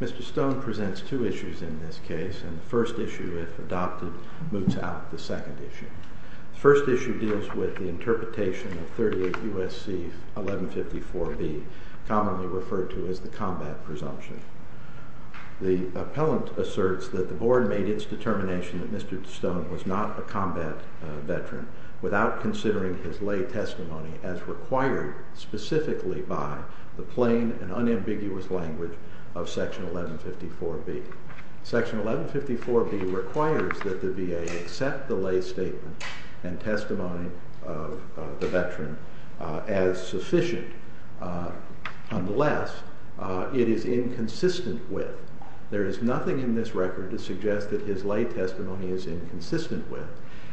Mr. Stone presents two issues in this case. The first issue, if adopted, moots out the interpretation of 38 U.S.C. 1154b, commonly referred to as the combat presumption. The appellant asserts that the board made its determination that Mr. Stone was not a combat veteran without considering his lay testimony as required specifically by the plain and unambiguous language of section 1154b. Section 1154b requires that the VA accept the lay testimony of a veteran as sufficient unless it is inconsistent with. There is nothing in this record to suggest that his lay testimony is inconsistent with.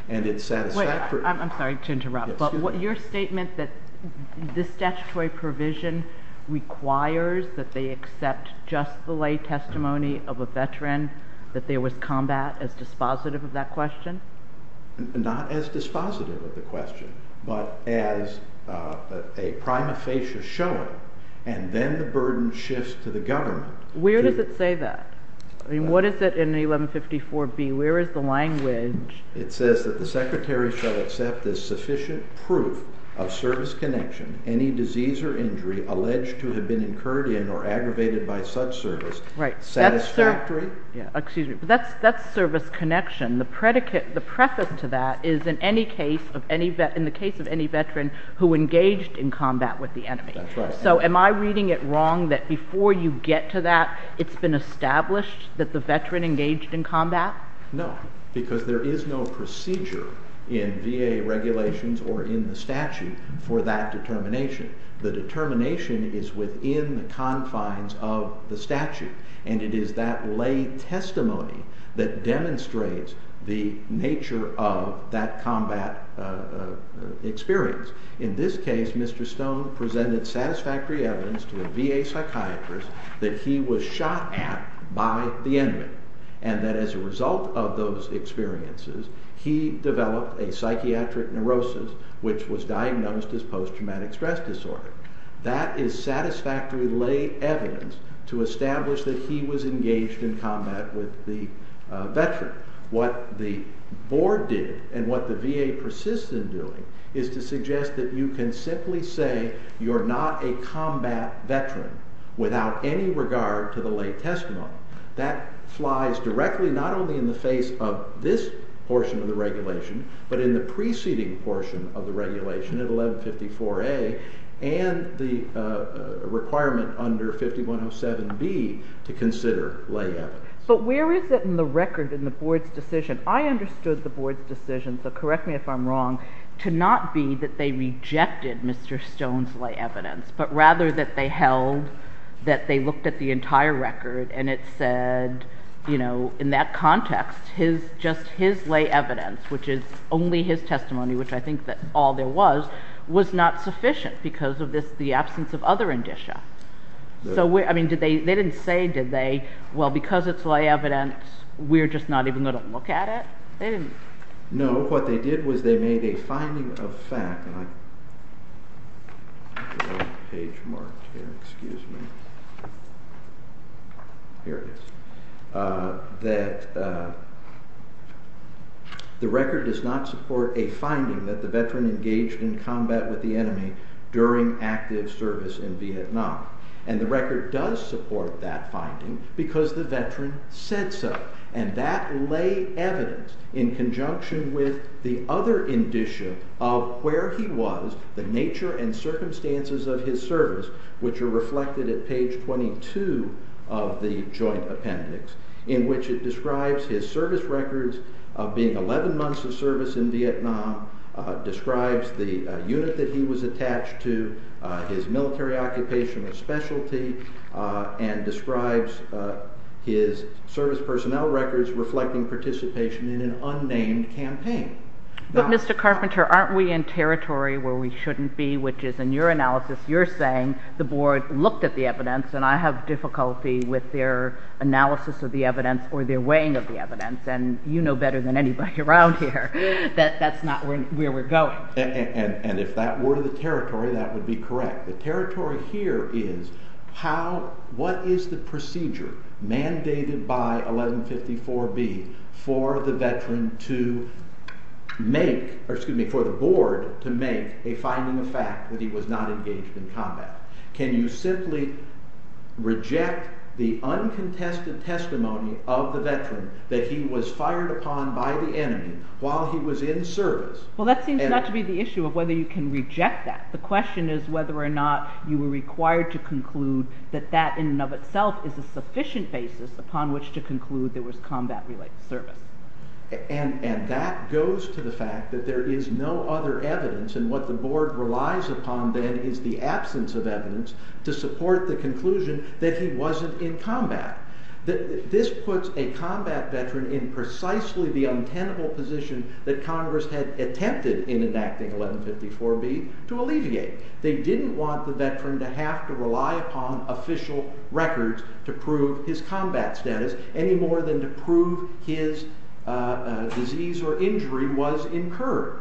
Wait, I'm sorry to interrupt. Your statement that this statutory provision requires that they accept just the lay testimony of a veteran, that there was combat as dispositive of that question? Not as dispositive of the question, but as a prima facie showing, and then the burden shifts to the government. Where does it say that? What is it in 1154b? Where is the language? It says that the secretary shall accept as sufficient proof of service connection any disease or injury alleged to have been incurred in or aggravated by such service satisfactory? That's service connection. The preface to that is in the case of any veteran who engaged in combat with the enemy. So am I reading it wrong that before you get to that, it's been established that the veteran engaged in combat? No, because there is no procedure in VA regulations or in the statute for that determination. The determination is within the confines of the statute, and it is that lay testimony that demonstrates the nature of that combat experience. In this case, Mr. Stone presented satisfactory evidence to a VA psychiatrist that he was shot at by the enemy, and that as a result of those experiences, he developed a psychiatric neurosis, which was diagnosed as post-traumatic stress disorder. That is satisfactory lay evidence to establish that he was engaged in combat with the veteran. What the board did, and what the VA persists in doing, is to suggest that you can simply say you're not a combat veteran without any regard to the lay testimony. That flies directly not only in the face of this portion of the regulation, but in the preceding portion of the regulation at 1154A and the requirement under 5107B to consider lay evidence. But where is it in the record in the board's decision? I understood the board's decision, so correct me if I'm wrong, to not be that they rejected Mr. Stone's lay evidence, but rather that they held that they looked at the entire record and it said in that context, just his lay evidence, which is only his testimony, which I think that all there was, was not sufficient because of the absence of other indicia. They didn't say, did they, because it's lay evidence, we're just not even going to look at it? No, what they did was they made a finding of fact, the record does not support a finding that the veteran engaged in combat with the enemy during active service in Vietnam, and the record does support that finding because the in conjunction with the other indicia of where he was, the nature and circumstances of his service, which are reflected at page 22 of the joint appendix, in which it describes his service records of being 11 months of service in Vietnam, describes the unit that he was attached to, his military occupation or specialty, and describes his service personnel records reflecting participation in an unnamed campaign. But Mr. Carpenter, aren't we in territory where we shouldn't be, which is in your analysis, you're saying the board looked at the evidence, and I have difficulty with their analysis of the evidence or their weighing of the evidence, and you know better than anybody around here that that's not where we're going. And if that were the territory, that would be correct. The territory here is how, what is the procedure mandated by 1154B for the veteran to make, or excuse me, for the board to make a finding of fact that he was not engaged in combat? Can you simply reject the uncontested testimony of the veteran that he was fired upon by the enemy while he was in service? Well that seems not to be the issue of whether you can reject that. The question is whether or not you were required to conclude that that in and of itself is a sufficient basis upon which to conclude there was combat related service. And that goes to the fact that there is no other evidence, and what the board relies upon then is the absence of evidence to support the conclusion that he wasn't in combat. This puts a combat veteran in precisely the untenable position that Congress had attempted in enacting 1154B to alleviate. They didn't want the veteran to have to rely upon official records to prove his combat status any more than to prove his disease or injury was incurred.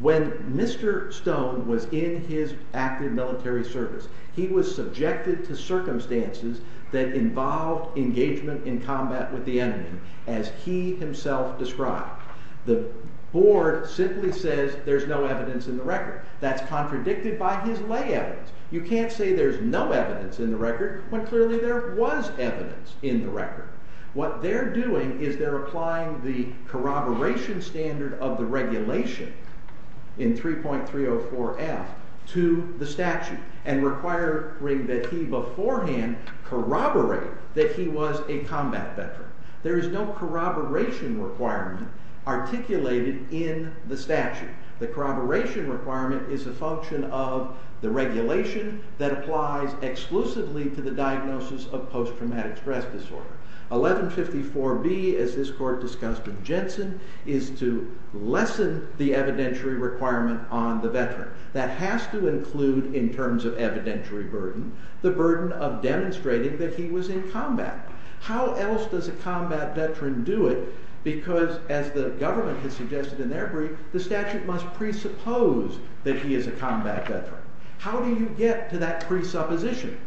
When Mr. Stone was in his active military service, he was subjected to circumstances that involved engagement in combat with the enemy as he himself described. The board simply says there's no evidence in the record. That's contradicted by his lay evidence. You can't say there's no evidence in the record when clearly there was evidence in the record. What they're doing is they're applying the corroboration standard of the regulation in 3.304F to the statute and requiring that he beforehand corroborate that he was a combat veteran. There is no corroboration requirement articulated in the statute. The corroboration requirement is a function of the regulation that applies exclusively to the diagnosis of post-traumatic stress disorder. 1154B, as this court discussed with Jensen, is to lessen the evidentiary requirement on the veteran. That has to include, in terms of evidentiary burden, the burden of demonstrating that he was in combat. How else does a combat veteran do it because, as the government has suggested in their brief, the statute must presuppose that he is a combat veteran. How do you get to that presupposition?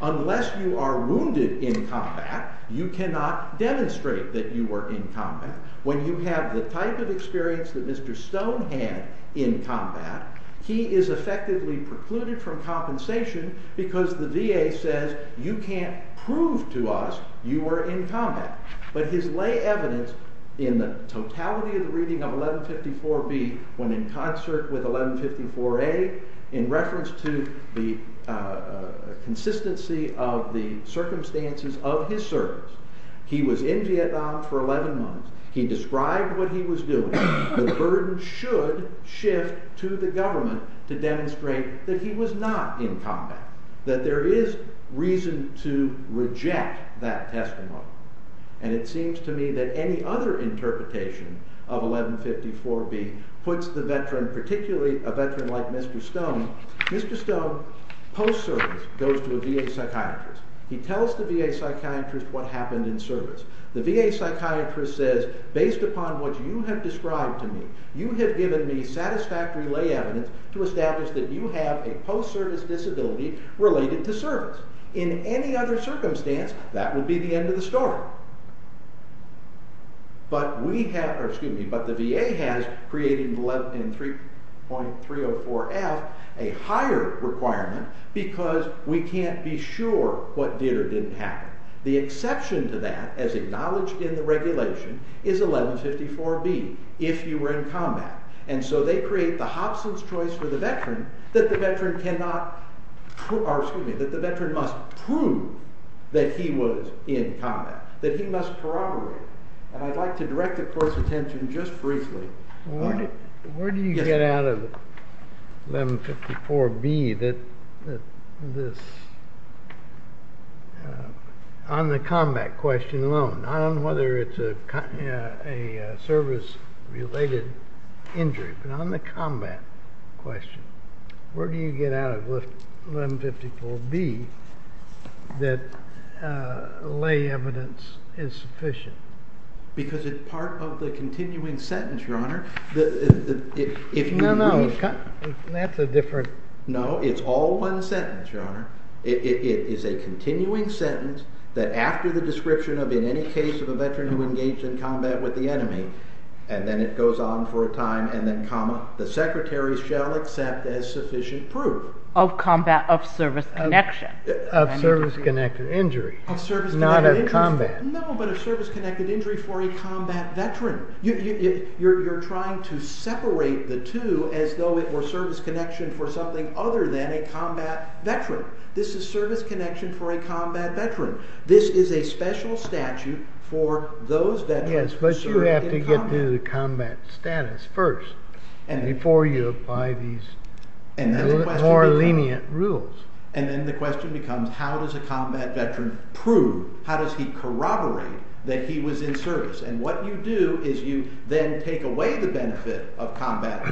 Unless you are wounded in combat, you cannot demonstrate that you were in combat. When you have the type of experience that Mr. Stone had in combat, he is effectively precluded from compensation because the VA says, you can't prove to us you were in combat. But his lay evidence in the totality of the reading of 1154B, when in concert with 1154A, in reference to the consistency of the circumstances of his service, he was in Vietnam for 11 months, he described what he was doing, the burden should shift to the government to demonstrate that he was not in combat, that there is reason to reject that testimony. And it seems to me that any other interpretation of 1154B puts the veteran, particularly a veteran like Mr. Stone, Mr. Stone, post-service, goes to a VA psychiatrist. He tells the VA psychiatrist what happened in service. The VA psychiatrist says, based upon what you have described to me, you have given me satisfactory lay evidence to establish that you have a post-service disability related to service. In any other circumstance, that would be the end of the story. But the VA has created in 3.304F a higher requirement because we can't be sure what did or didn't happen. The exception to that, as acknowledged in the regulation, is 1154B, if you were in combat. And so they create the Hobson's choice for the veteran that the veteran must prove that he was in combat, that he must corroborate. And I'd like to direct the court's attention just briefly. Where do you get out of 1154B that this, on the combat question alone, I don't know whether it's a service-related injury, but on the combat question, where do you get out of 1154B that lay evidence is sufficient? Because it's part of the continuing sentence, Your Honor. No, no, that's a different. No, it's all one sentence, Your Honor. It is a continuing sentence that after the description of in any case of a veteran who engaged in combat with the enemy, and then it goes on for a time, and then comma, the secretary shall accept as sufficient proof. Of combat of service connection. Of service connection, injury. Of service connection. Not of combat. No, but of service-connected injury for a combat veteran. You're trying to separate the two as though it were service connection for something other than a combat veteran. This is service connection for a combat veteran. This is a special statute for those veterans. Yes, but you have to get to the combat status first before you apply these more lenient rules. And then the question becomes how does a combat veteran prove, how does he corroborate that he was in service? And what you do is you then take away the benefit of combat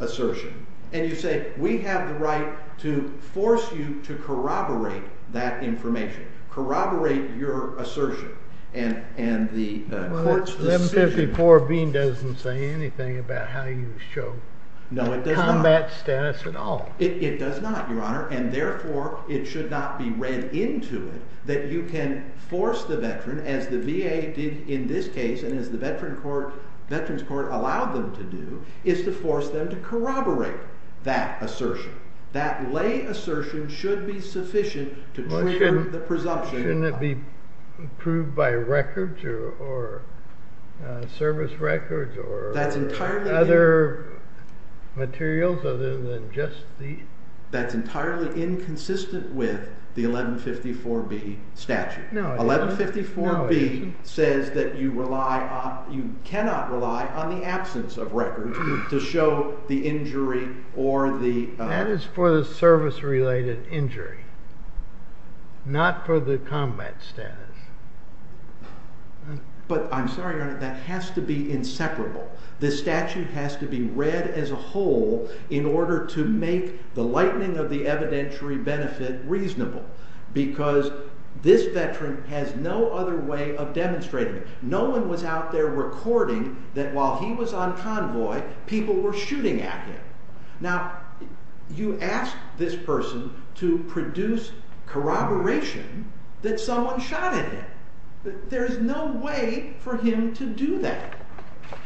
assertion, and you say we have the right to force you to corroborate that information, corroborate your assertion, and the court's decision. 1154B doesn't say anything about how you show combat status at all. It does not, Your Honor, and therefore it should not be read into it that you can force the veteran, as the VA did in this case and as the Veterans Court allowed them to do, is to force them to corroborate that assertion. That lay assertion should be sufficient to trigger the presumption. Shouldn't it be proved by records or service records or other materials other than just these? That's entirely inconsistent with the 1154B statute. 1154B says that you cannot rely on the absence of records to show the injury or the... not for the combat status. But I'm sorry, Your Honor, that has to be inseparable. The statute has to be read as a whole in order to make the lightening of the evidentiary benefit reasonable, because this veteran has no other way of demonstrating it. No one was out there recording that while he was on convoy, people were shooting at him. Now, you ask this person to produce corroboration that someone shot at him. There's no way for him to do that.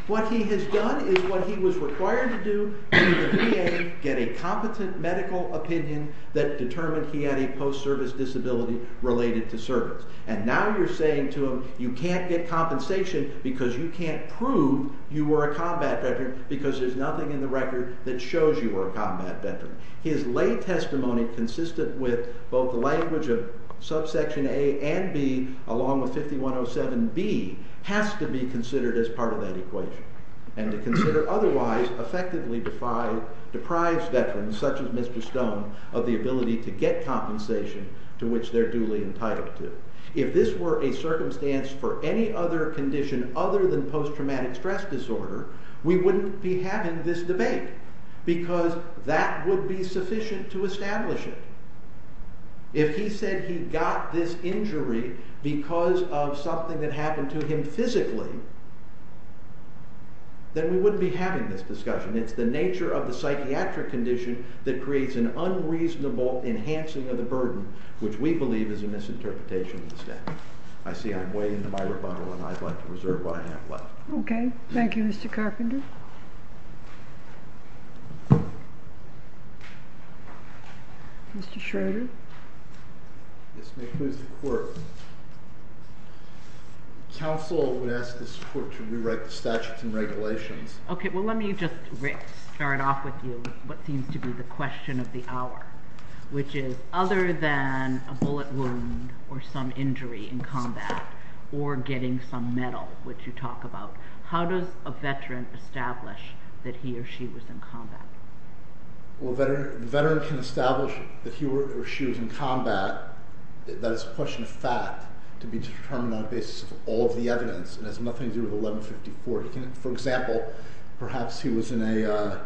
What he has done is what he was required to do, get a competent medical opinion that determined he had a post-service disability related to service. And now you're saying to him you can't get compensation because you can't prove you were a combat veteran because there's nothing in the record that shows you were a combat veteran. His lay testimony consistent with both the language of subsection A and B along with 5107B has to be considered as part of that equation and to consider otherwise effectively deprived veterans such as Mr. Stone of the ability to get compensation to which they're duly entitled to. If this were a circumstance for any other condition other than post-traumatic stress disorder, we wouldn't be having this debate because that would be sufficient to establish it. If he said he got this injury because of something that happened to him physically, then we wouldn't be having this discussion. It's the nature of the psychiatric condition that creates an unreasonable enhancing of the burden which we believe is a misinterpretation of the statute. I see I'm way into my rebuttal and I'd like to reserve what I have left. Okay. Thank you, Mr. Carpenter. Mr. Schroeder. Yes, ma'am. Who's the court? Counsel would ask this court to rewrite the statutes and regulations. Okay. Well, let me just start off with you what seems to be the question of the hour which is other than a bullet wound or some injury in combat or getting some medal which you talk about, how does a veteran establish that he or she was in combat? Well, a veteran can establish that he or she was in combat. That is a question of fact to be determined on the basis of all of the evidence. It has nothing to do with 1154. For example, perhaps he was in a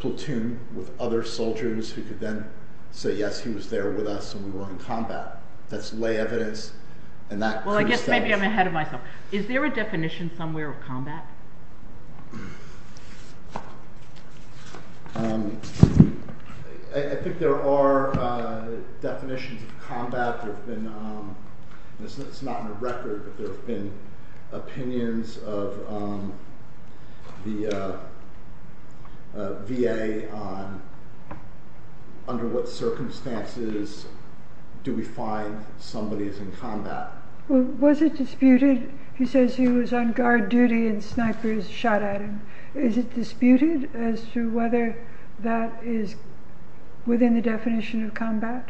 platoon with other soldiers who could then say, yes, he was there with us when we were in combat. That's lay evidence and that could establish. Maybe I'm ahead of myself. Is there a definition somewhere of combat? I think there are definitions of combat. It's not in the record, but there have been opinions of the VA on under what circumstances do we find somebody is in combat. Was it disputed? He says he was on guard duty and snipers shot at him. Is it disputed as to whether that is within the definition of combat?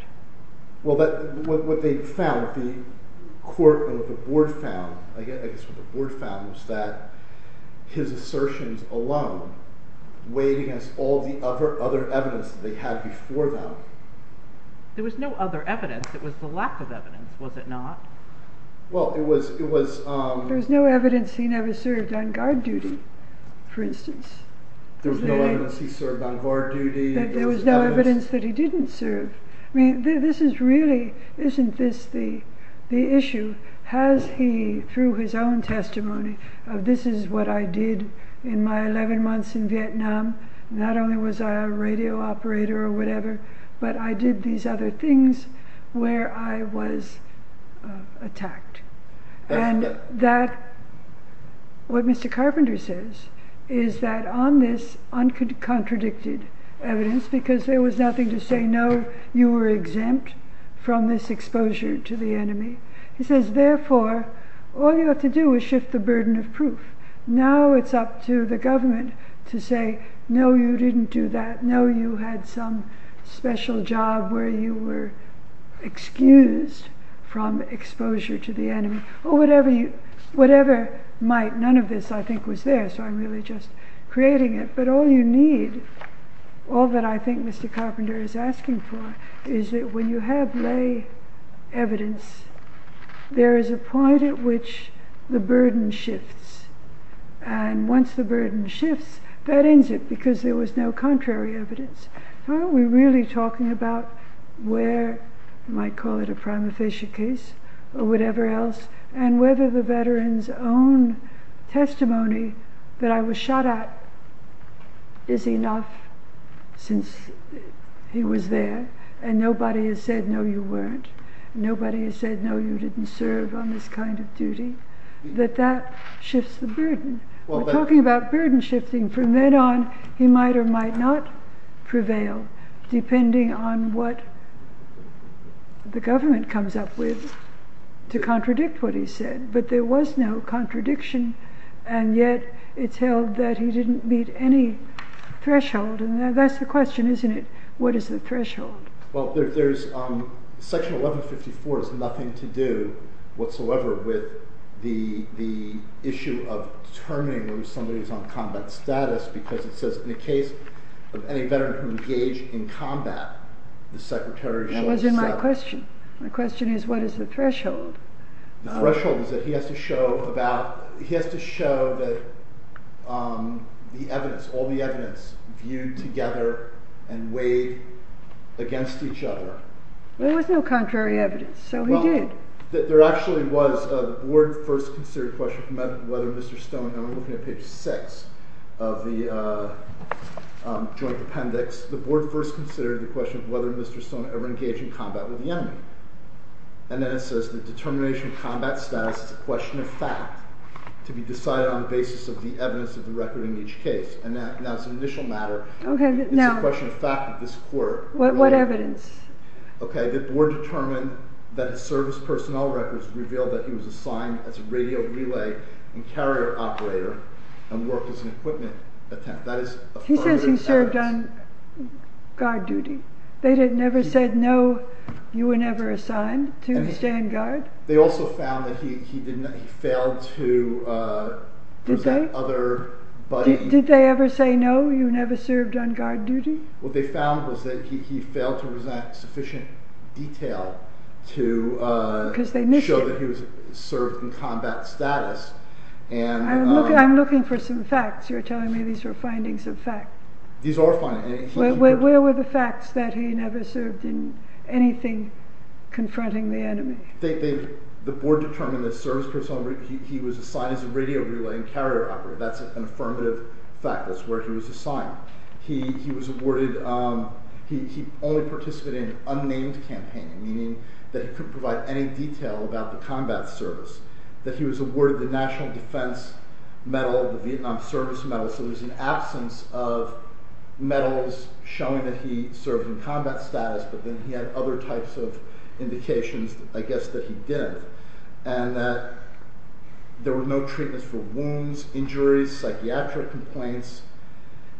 Well, what they found, the court or the board found, I guess what the board found was that his assertions alone weighed against all the other evidence they had before them. There was no other evidence. It was the lack of evidence, was it not? There was no evidence he never served on guard duty, for instance. There was no evidence he served on guard duty. There was no evidence that he didn't serve. This is really, isn't this the issue? Has he, through his own testimony, this is what I did in my 11 months in Vietnam. Not only was I a radio operator or whatever, but I did these other things where I was attacked. What Mr. Carpenter says is that on this uncontradicted evidence, because there was nothing to say no, you were exempt from this exposure to the enemy. He says, therefore, all you have to do is shift the burden of proof. Now it's up to the government to say, no, you didn't do that. No, you had some special job where you were excused from exposure to the enemy. Or whatever you, whatever might, none of this I think was there. So I'm really just creating it. But all you need, all that I think Mr. Carpenter is asking for, is that when you have lay evidence, there is a point at which the burden shifts. And once the burden shifts, that ends it, because there was no contrary evidence. Are we really talking about where, you might call it a prima facie case or whatever else, and whether the veteran's own testimony that I was shot at is enough since he was there. And nobody has said, no, you weren't. Nobody has said, no, you didn't serve on this kind of duty. That that shifts the burden. We're talking about burden shifting. From then on, he might or might not prevail, depending on what the government comes up with to contradict what he said. But there was no contradiction, and yet it's held that he didn't meet any threshold. And that's the question, isn't it? What is the threshold? Well, Section 1154 has nothing to do whatsoever with the issue of determining whether somebody is on combat status, because it says, in the case of any veteran who engaged in combat, the Secretary of General Staff... That wasn't my question. My question is, what is the threshold? The threshold is that he has to show that the evidence, viewed together and weighed against each other... There was no contrary evidence, so he did. There actually was. The Board first considered the question of whether Mr. Stone... I'm looking at page 6 of the Joint Appendix. The Board first considered the question of whether Mr. Stone ever engaged in combat with the enemy. And then it says, the determination of combat status is a question of fact to be decided on the basis of the evidence of the record in each case. And that's an initial matter. It's a question of fact of this court. What evidence? The Board determined that his service personnel records revealed that he was assigned as a radio relay and carrier operator and worked as an equipment attendant. He says he served on guard duty. They never said, no, you were never assigned to stand guard. They also found that he failed to present other... Did they ever say, no, you never served on guard duty? What they found was that he failed to present sufficient detail to show that he served in combat status. I'm looking for some facts. You're telling me these are findings of fact. These are findings. Where were the facts that he never served in anything confronting the enemy? The Board determined that his service personnel records he was assigned as a radio relay and carrier operator. That's an affirmative fact. That's where he was assigned. He was awarded... He only participated in unnamed campaigning, meaning that he couldn't provide any detail about the combat service, that he was awarded the National Defense Medal, the Vietnam Service Medal, so there's an absence of medals showing that he served in combat status, but then he had other types of indications, I guess, that he didn't, and that there were no treatments for wounds, injuries, psychiatric complaints,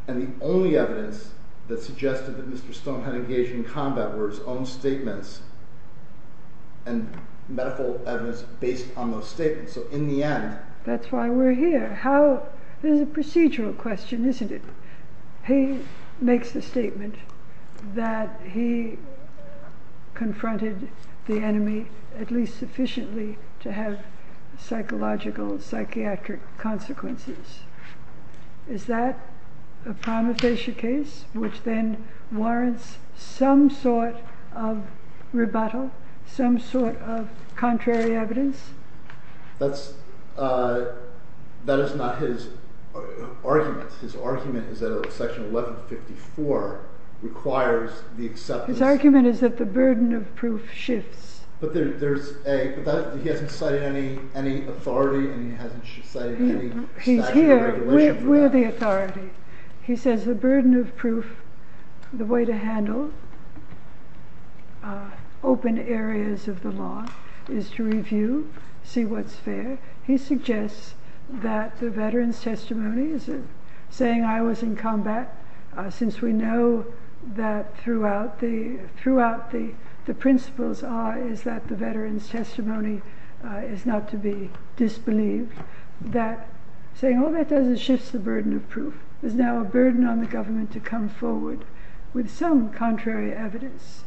and the only evidence that suggested that Mr. Stone had engaged in combat were his own statements and medical evidence based on those statements, so in the end... That's why we're here. How... This is a procedural question, isn't it? He makes the statement that he confronted the enemy at least sufficiently to have psychological, psychiatric consequences. Is that a prima facie case, which then warrants some sort of rebuttal, some sort of contrary evidence? That is not his argument. His argument is that Section 1154 requires the acceptance... His argument is that the burden of proof shifts. But there's a... He hasn't cited any authority, and he hasn't cited any statute of regulation for that. He's here. We're the authority. He says the burden of proof, the way to handle open areas of the law is to review, see what's fair. He suggests that the veterans' testimonies, saying I was in combat, since we know that throughout the principles is that the veterans' testimony is not to be disbelieved, that saying all that does is shifts the burden of proof. There's now a burden on the government to come forward with some contrary evidence.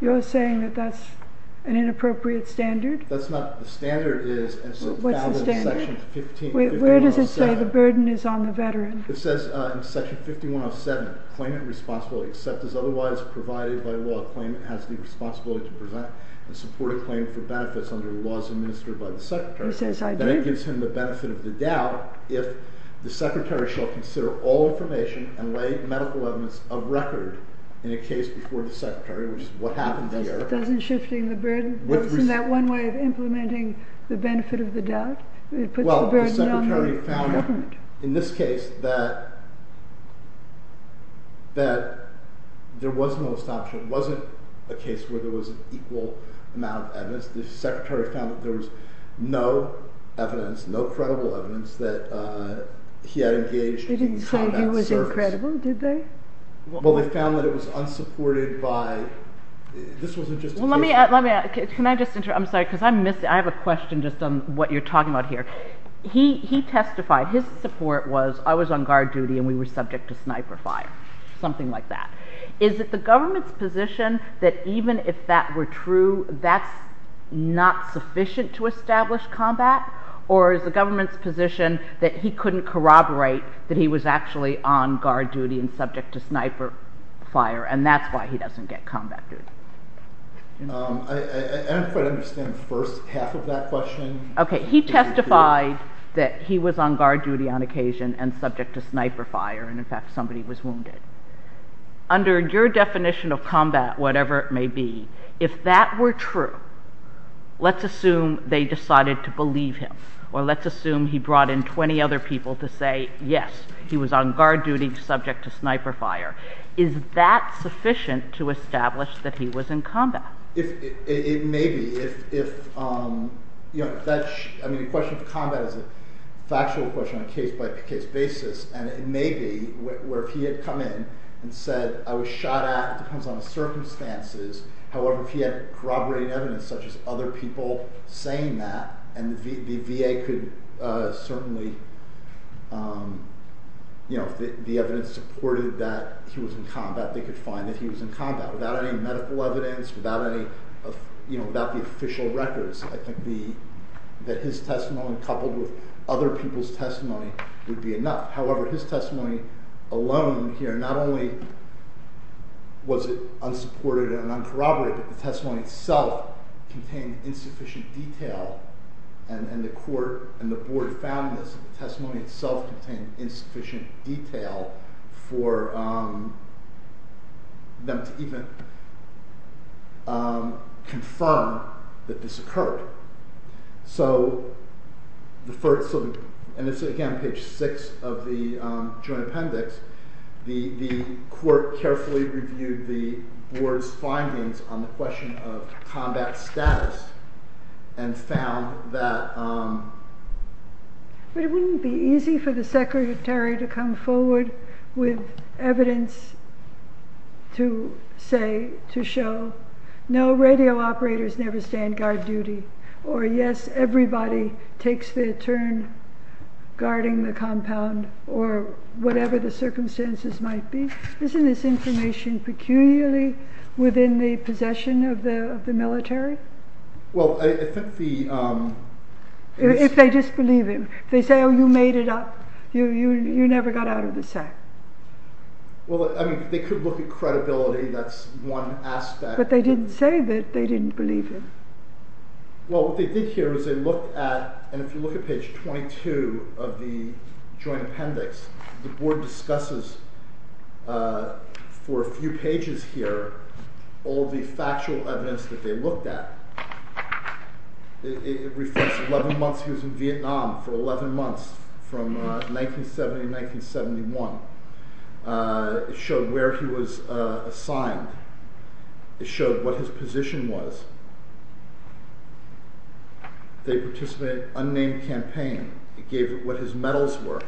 You're saying that that's an inappropriate standard? That's not... The standard is... Where does it say the burden is on the veteran? It says in Section 5107, claimant responsibility except as otherwise provided by law, claimant has the responsibility to present and support a claim for benefits under the laws administered by the secretary. He says I did. Then it gives him the benefit of the doubt if the secretary shall consider all information and lay medical evidence of record in a case before the secretary, which is what happened here. It doesn't shift the burden? Isn't that one way of implementing the benefit of the doubt? It puts the burden on the government. In this case, there was no assumption. It wasn't a case where there was an equal amount of evidence. The secretary found that there was no evidence, no credible evidence that he had engaged in combat service. They didn't say he was incredible, did they? Well, they found that it was unsupported by... This wasn't just a case... Can I just interrupt? I'm sorry, because I have a question just on what you're talking about here. He testified his support was I was on guard duty and we were subject to sniper fire, something like that. Is it the government's position that even if that were true, that's not sufficient to establish combat? Or is the government's position that he couldn't corroborate that he was actually on guard duty and subject to sniper fire, and that's why he doesn't get combat duty? I don't quite understand the first half of that question. Okay, he testified that he was on guard duty on occasion and subject to sniper fire, and in fact somebody was wounded. Under your definition of combat, whatever it may be, if that were true, let's assume they decided to believe him, or let's assume he brought in 20 other people to say, yes, he was on guard duty subject to sniper fire. Is that sufficient to establish that he was in combat? It may be. The question of combat is a factual question on a case-by-case basis, and it may be where if he had come in and said, I was shot at, it depends on the circumstances. However, if he had corroborating evidence, such as other people saying that, and the VA could certainly, if the evidence supported that he was in combat, they could find that he was in combat without any medical evidence, without the official records. I think that his testimony coupled with other people's testimony would be enough. However, his testimony alone here, not only was it unsupported and uncorroborated, the testimony itself contained insufficient detail, and the court and the board found this. The testimony itself contained insufficient detail for them to even confirm that this occurred. So the first, and this is again page 6 of the joint appendix, the court carefully reviewed the board's findings on the question of combat status and found that... But it wouldn't be easy for the secretary to come forward with evidence to say, to show, no, radio operators never stand guard duty, or yes, everybody takes their turn guarding the compound, or whatever the circumstances might be. Isn't this information peculiarly within the possession of the military? Well, I think the... If they disbelieve him, if they say, oh, you made it up, you never got out of the sack. Well, I mean, they could look at credibility, that's one aspect. But they didn't say that they didn't believe him. Well, what they did here is they looked at, and if you look at page 22 of the joint appendix, the board discusses for a few pages here all the factual evidence that they looked at. It reflects 11 months he was in Vietnam, for 11 months from 1970 to 1971. It showed where he was assigned. It showed what his position was. They participated in an unnamed campaign. It gave what his medals were.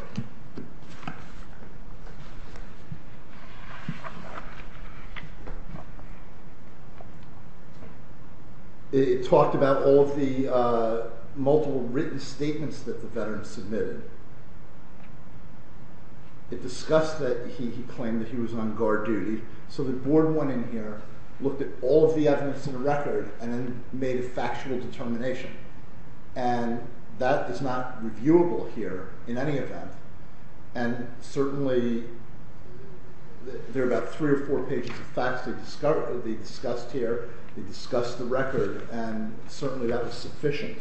It talked about all the multiple written statements that the veterans submitted. It discussed that he claimed that he was on guard duty. So the board went in here, looked at all the evidence in the record, and then made a factual determination. And that is not reviewable here in any event. And certainly there are about three or four pages of facts that they discussed here. They discussed the record, and certainly that was sufficient.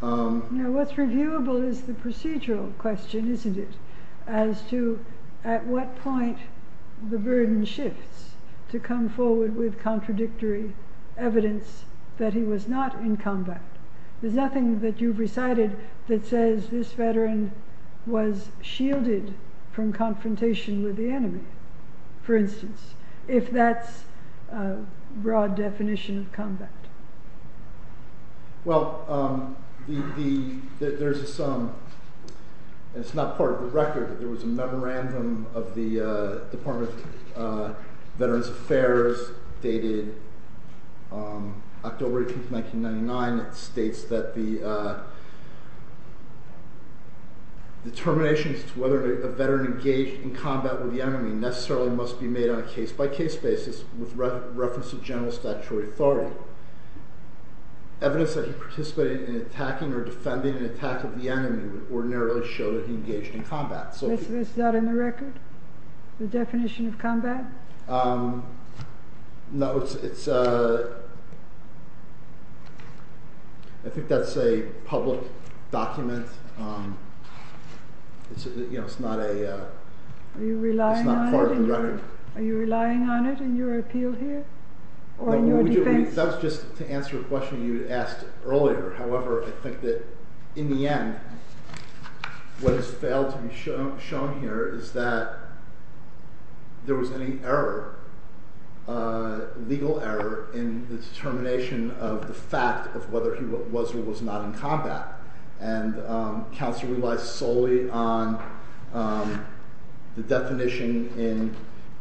Now what's reviewable is the procedural question, isn't it? As to at what point the burden shifts to come forward with contradictory evidence that he was not in combat. There's nothing that you've recited that says this veteran was shielded from confrontation with the enemy, for instance, if that's a broad definition of combat. Well, there's some, and it's not part of the record, but there was a memorandum of the Department of Veterans Affairs dated October 18, 1999, that states that the determination as to whether a veteran engaged in combat with the enemy necessarily must be made on a case-by-case basis with reference to general statutory authority. Evidence that he participated in attacking or defending an attack of the enemy would ordinarily show that he engaged in combat. Is this not in the record, the definition of combat? No, I think that's a public document. It's not part of the record. Are you relying on it in your appeal here, or in your defense? That was just to answer a question you had asked earlier. However, I think that in the end, what has failed to be shown here is that there was any error, legal error, in the determination of the fact of whether he was or was not in combat. And counsel relies solely on the definition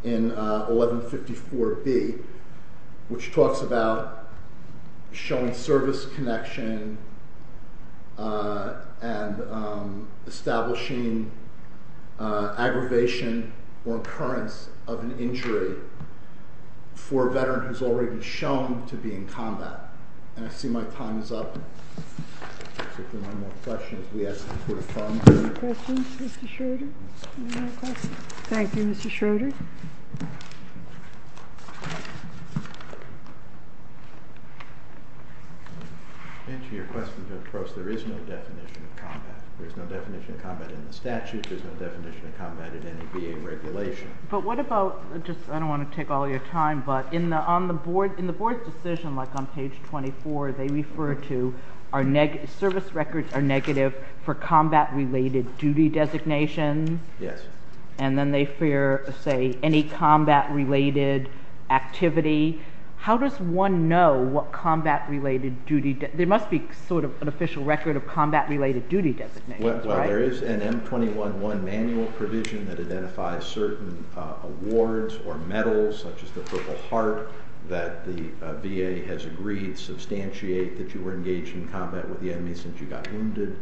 in 1154B, which talks about showing service connection and establishing aggravation or occurrence of an injury for a veteran who has already been shown to be in combat. And I see my time is up. If there are no more questions, we ask that you put a thumb down. No questions, Mr. Schroeder? Thank you, Mr. Schroeder. Mr. Schroeder? To answer your question, there is no definition of combat. There's no definition of combat in the statute. There's no definition of combat in any VA regulation. But what about, I don't want to take all your time, but in the board's decision, like on page 24, they refer to service records are negative for combat-related duty designation. Yes. And then they say any combat-related activity. How does one know what combat-related duty designation? There must be sort of an official record of combat-related duty designation. Well, there is an M21-1 manual provision that identifies certain awards or medals, such as the Purple Heart, that the VA has agreed to substantiate that you were engaged in combat with the enemy since you got wounded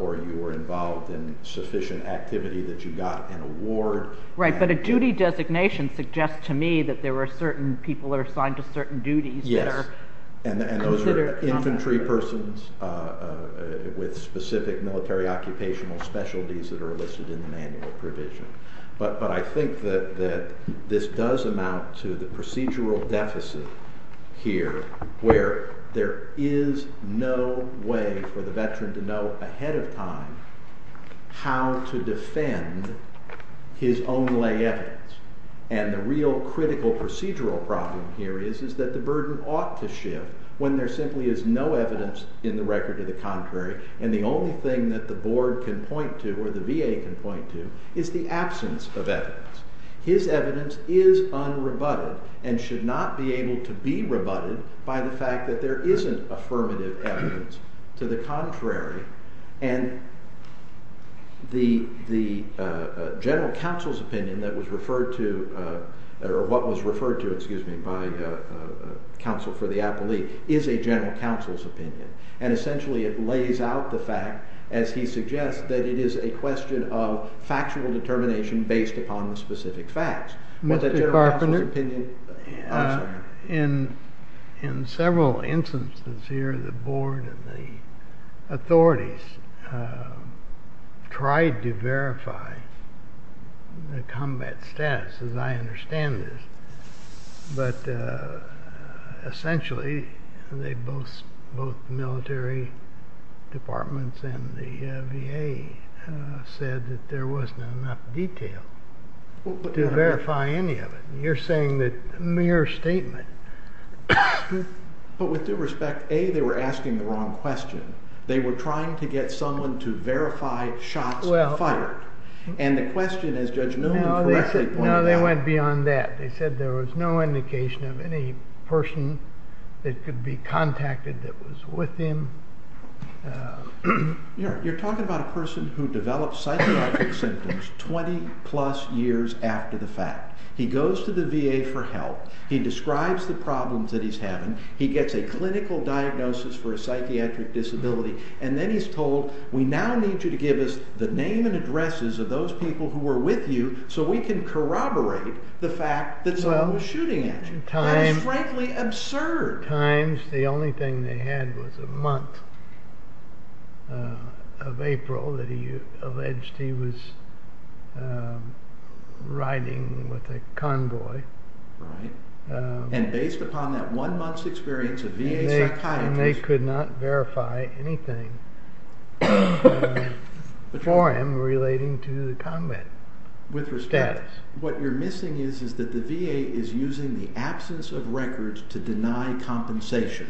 or you were involved in sufficient activity that you got an award. Right, but a duty designation suggests to me that there are certain people that are assigned to certain duties that are considered combat. Yes, and those are infantry persons with specific military occupational specialties that are listed in the manual provision. But I think that this does amount to the procedural deficit here where there is no way for the veteran to know ahead of time how to defend his own lay evidence. And the real critical procedural problem here is that the burden ought to shift when there simply is no evidence in the record to the contrary, and the only thing that the board can point to or the VA can point to is the absence of evidence. His evidence is unrebutted and should not be able to be rebutted by the fact that there isn't affirmative evidence to the contrary. And the general counsel's opinion that was referred to, or what was referred to, excuse me, by counsel for the appellee is a general counsel's opinion, and essentially it lays out the fact, as he suggests, that it is a question of factual determination based upon the specific facts. Was that general counsel's opinion? Mr. Carpenter, in several instances here, the board and the authorities tried to verify the combat status, as I understand it, but essentially both military departments and the VA said that there wasn't enough detail to verify any of it. You're saying that mere statement. But with due respect, A, they were asking the wrong question. They were trying to get someone to verify shots fired, and the question, as Judge Newman correctly pointed out. No, they went beyond that. They said there was no indication of any person that could be contacted that was with him. You're talking about a person who develops psychiatric symptoms 20-plus years after the fact. He goes to the VA for help. He describes the problems that he's having. He gets a clinical diagnosis for a psychiatric disability, and then he's told, we now need you to give us the name and addresses of those people who were with you so we can corroborate the fact that someone was shooting at you. That is frankly absurd. At times the only thing they had was a month of April that he alleged he was riding with a convoy. And based upon that one month's experience of VA psychiatry. They could not verify anything for him relating to the combat status. What you're missing is that the VA is using the absence of records to deny compensation.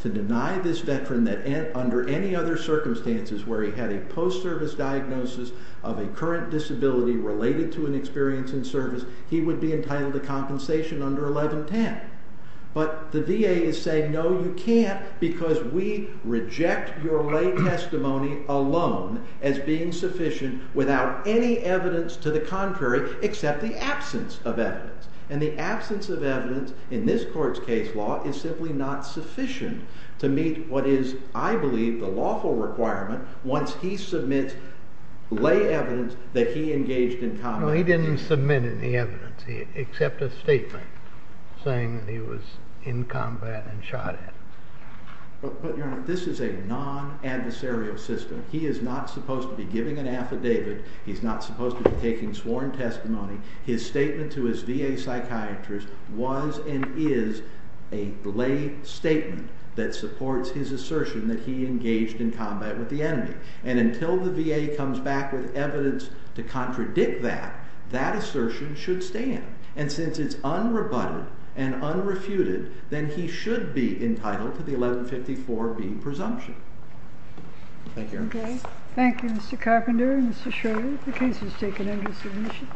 To deny this veteran that under any other circumstances where he had a post-service diagnosis of a current disability related to an experience in service, he would be entitled to compensation under 1110. But the VA is saying, no, you can't, because we reject your lay testimony alone as being sufficient without any evidence to the contrary except the absence of evidence. And the absence of evidence in this court's case law is simply not sufficient to meet what is, I believe, the lawful requirement once he submits lay evidence that he engaged in combat. No, he didn't submit any evidence except a statement saying that he was in combat and shot at. But, Your Honor, this is a non-adversarial system. He is not supposed to be giving an affidavit. He's not supposed to be taking sworn testimony. His statement to his VA psychiatrist was and is a lay statement that supports his assertion that he engaged in combat with the enemy. And until the VA comes back with evidence to contradict that, that assertion should stand. And since it's unrebutted and unrefuted, then he should be entitled to the 1154B presumption. Thank you, Your Honor. Okay. Thank you, Mr. Carpenter and Mr. Shirley. The case is taken under submission.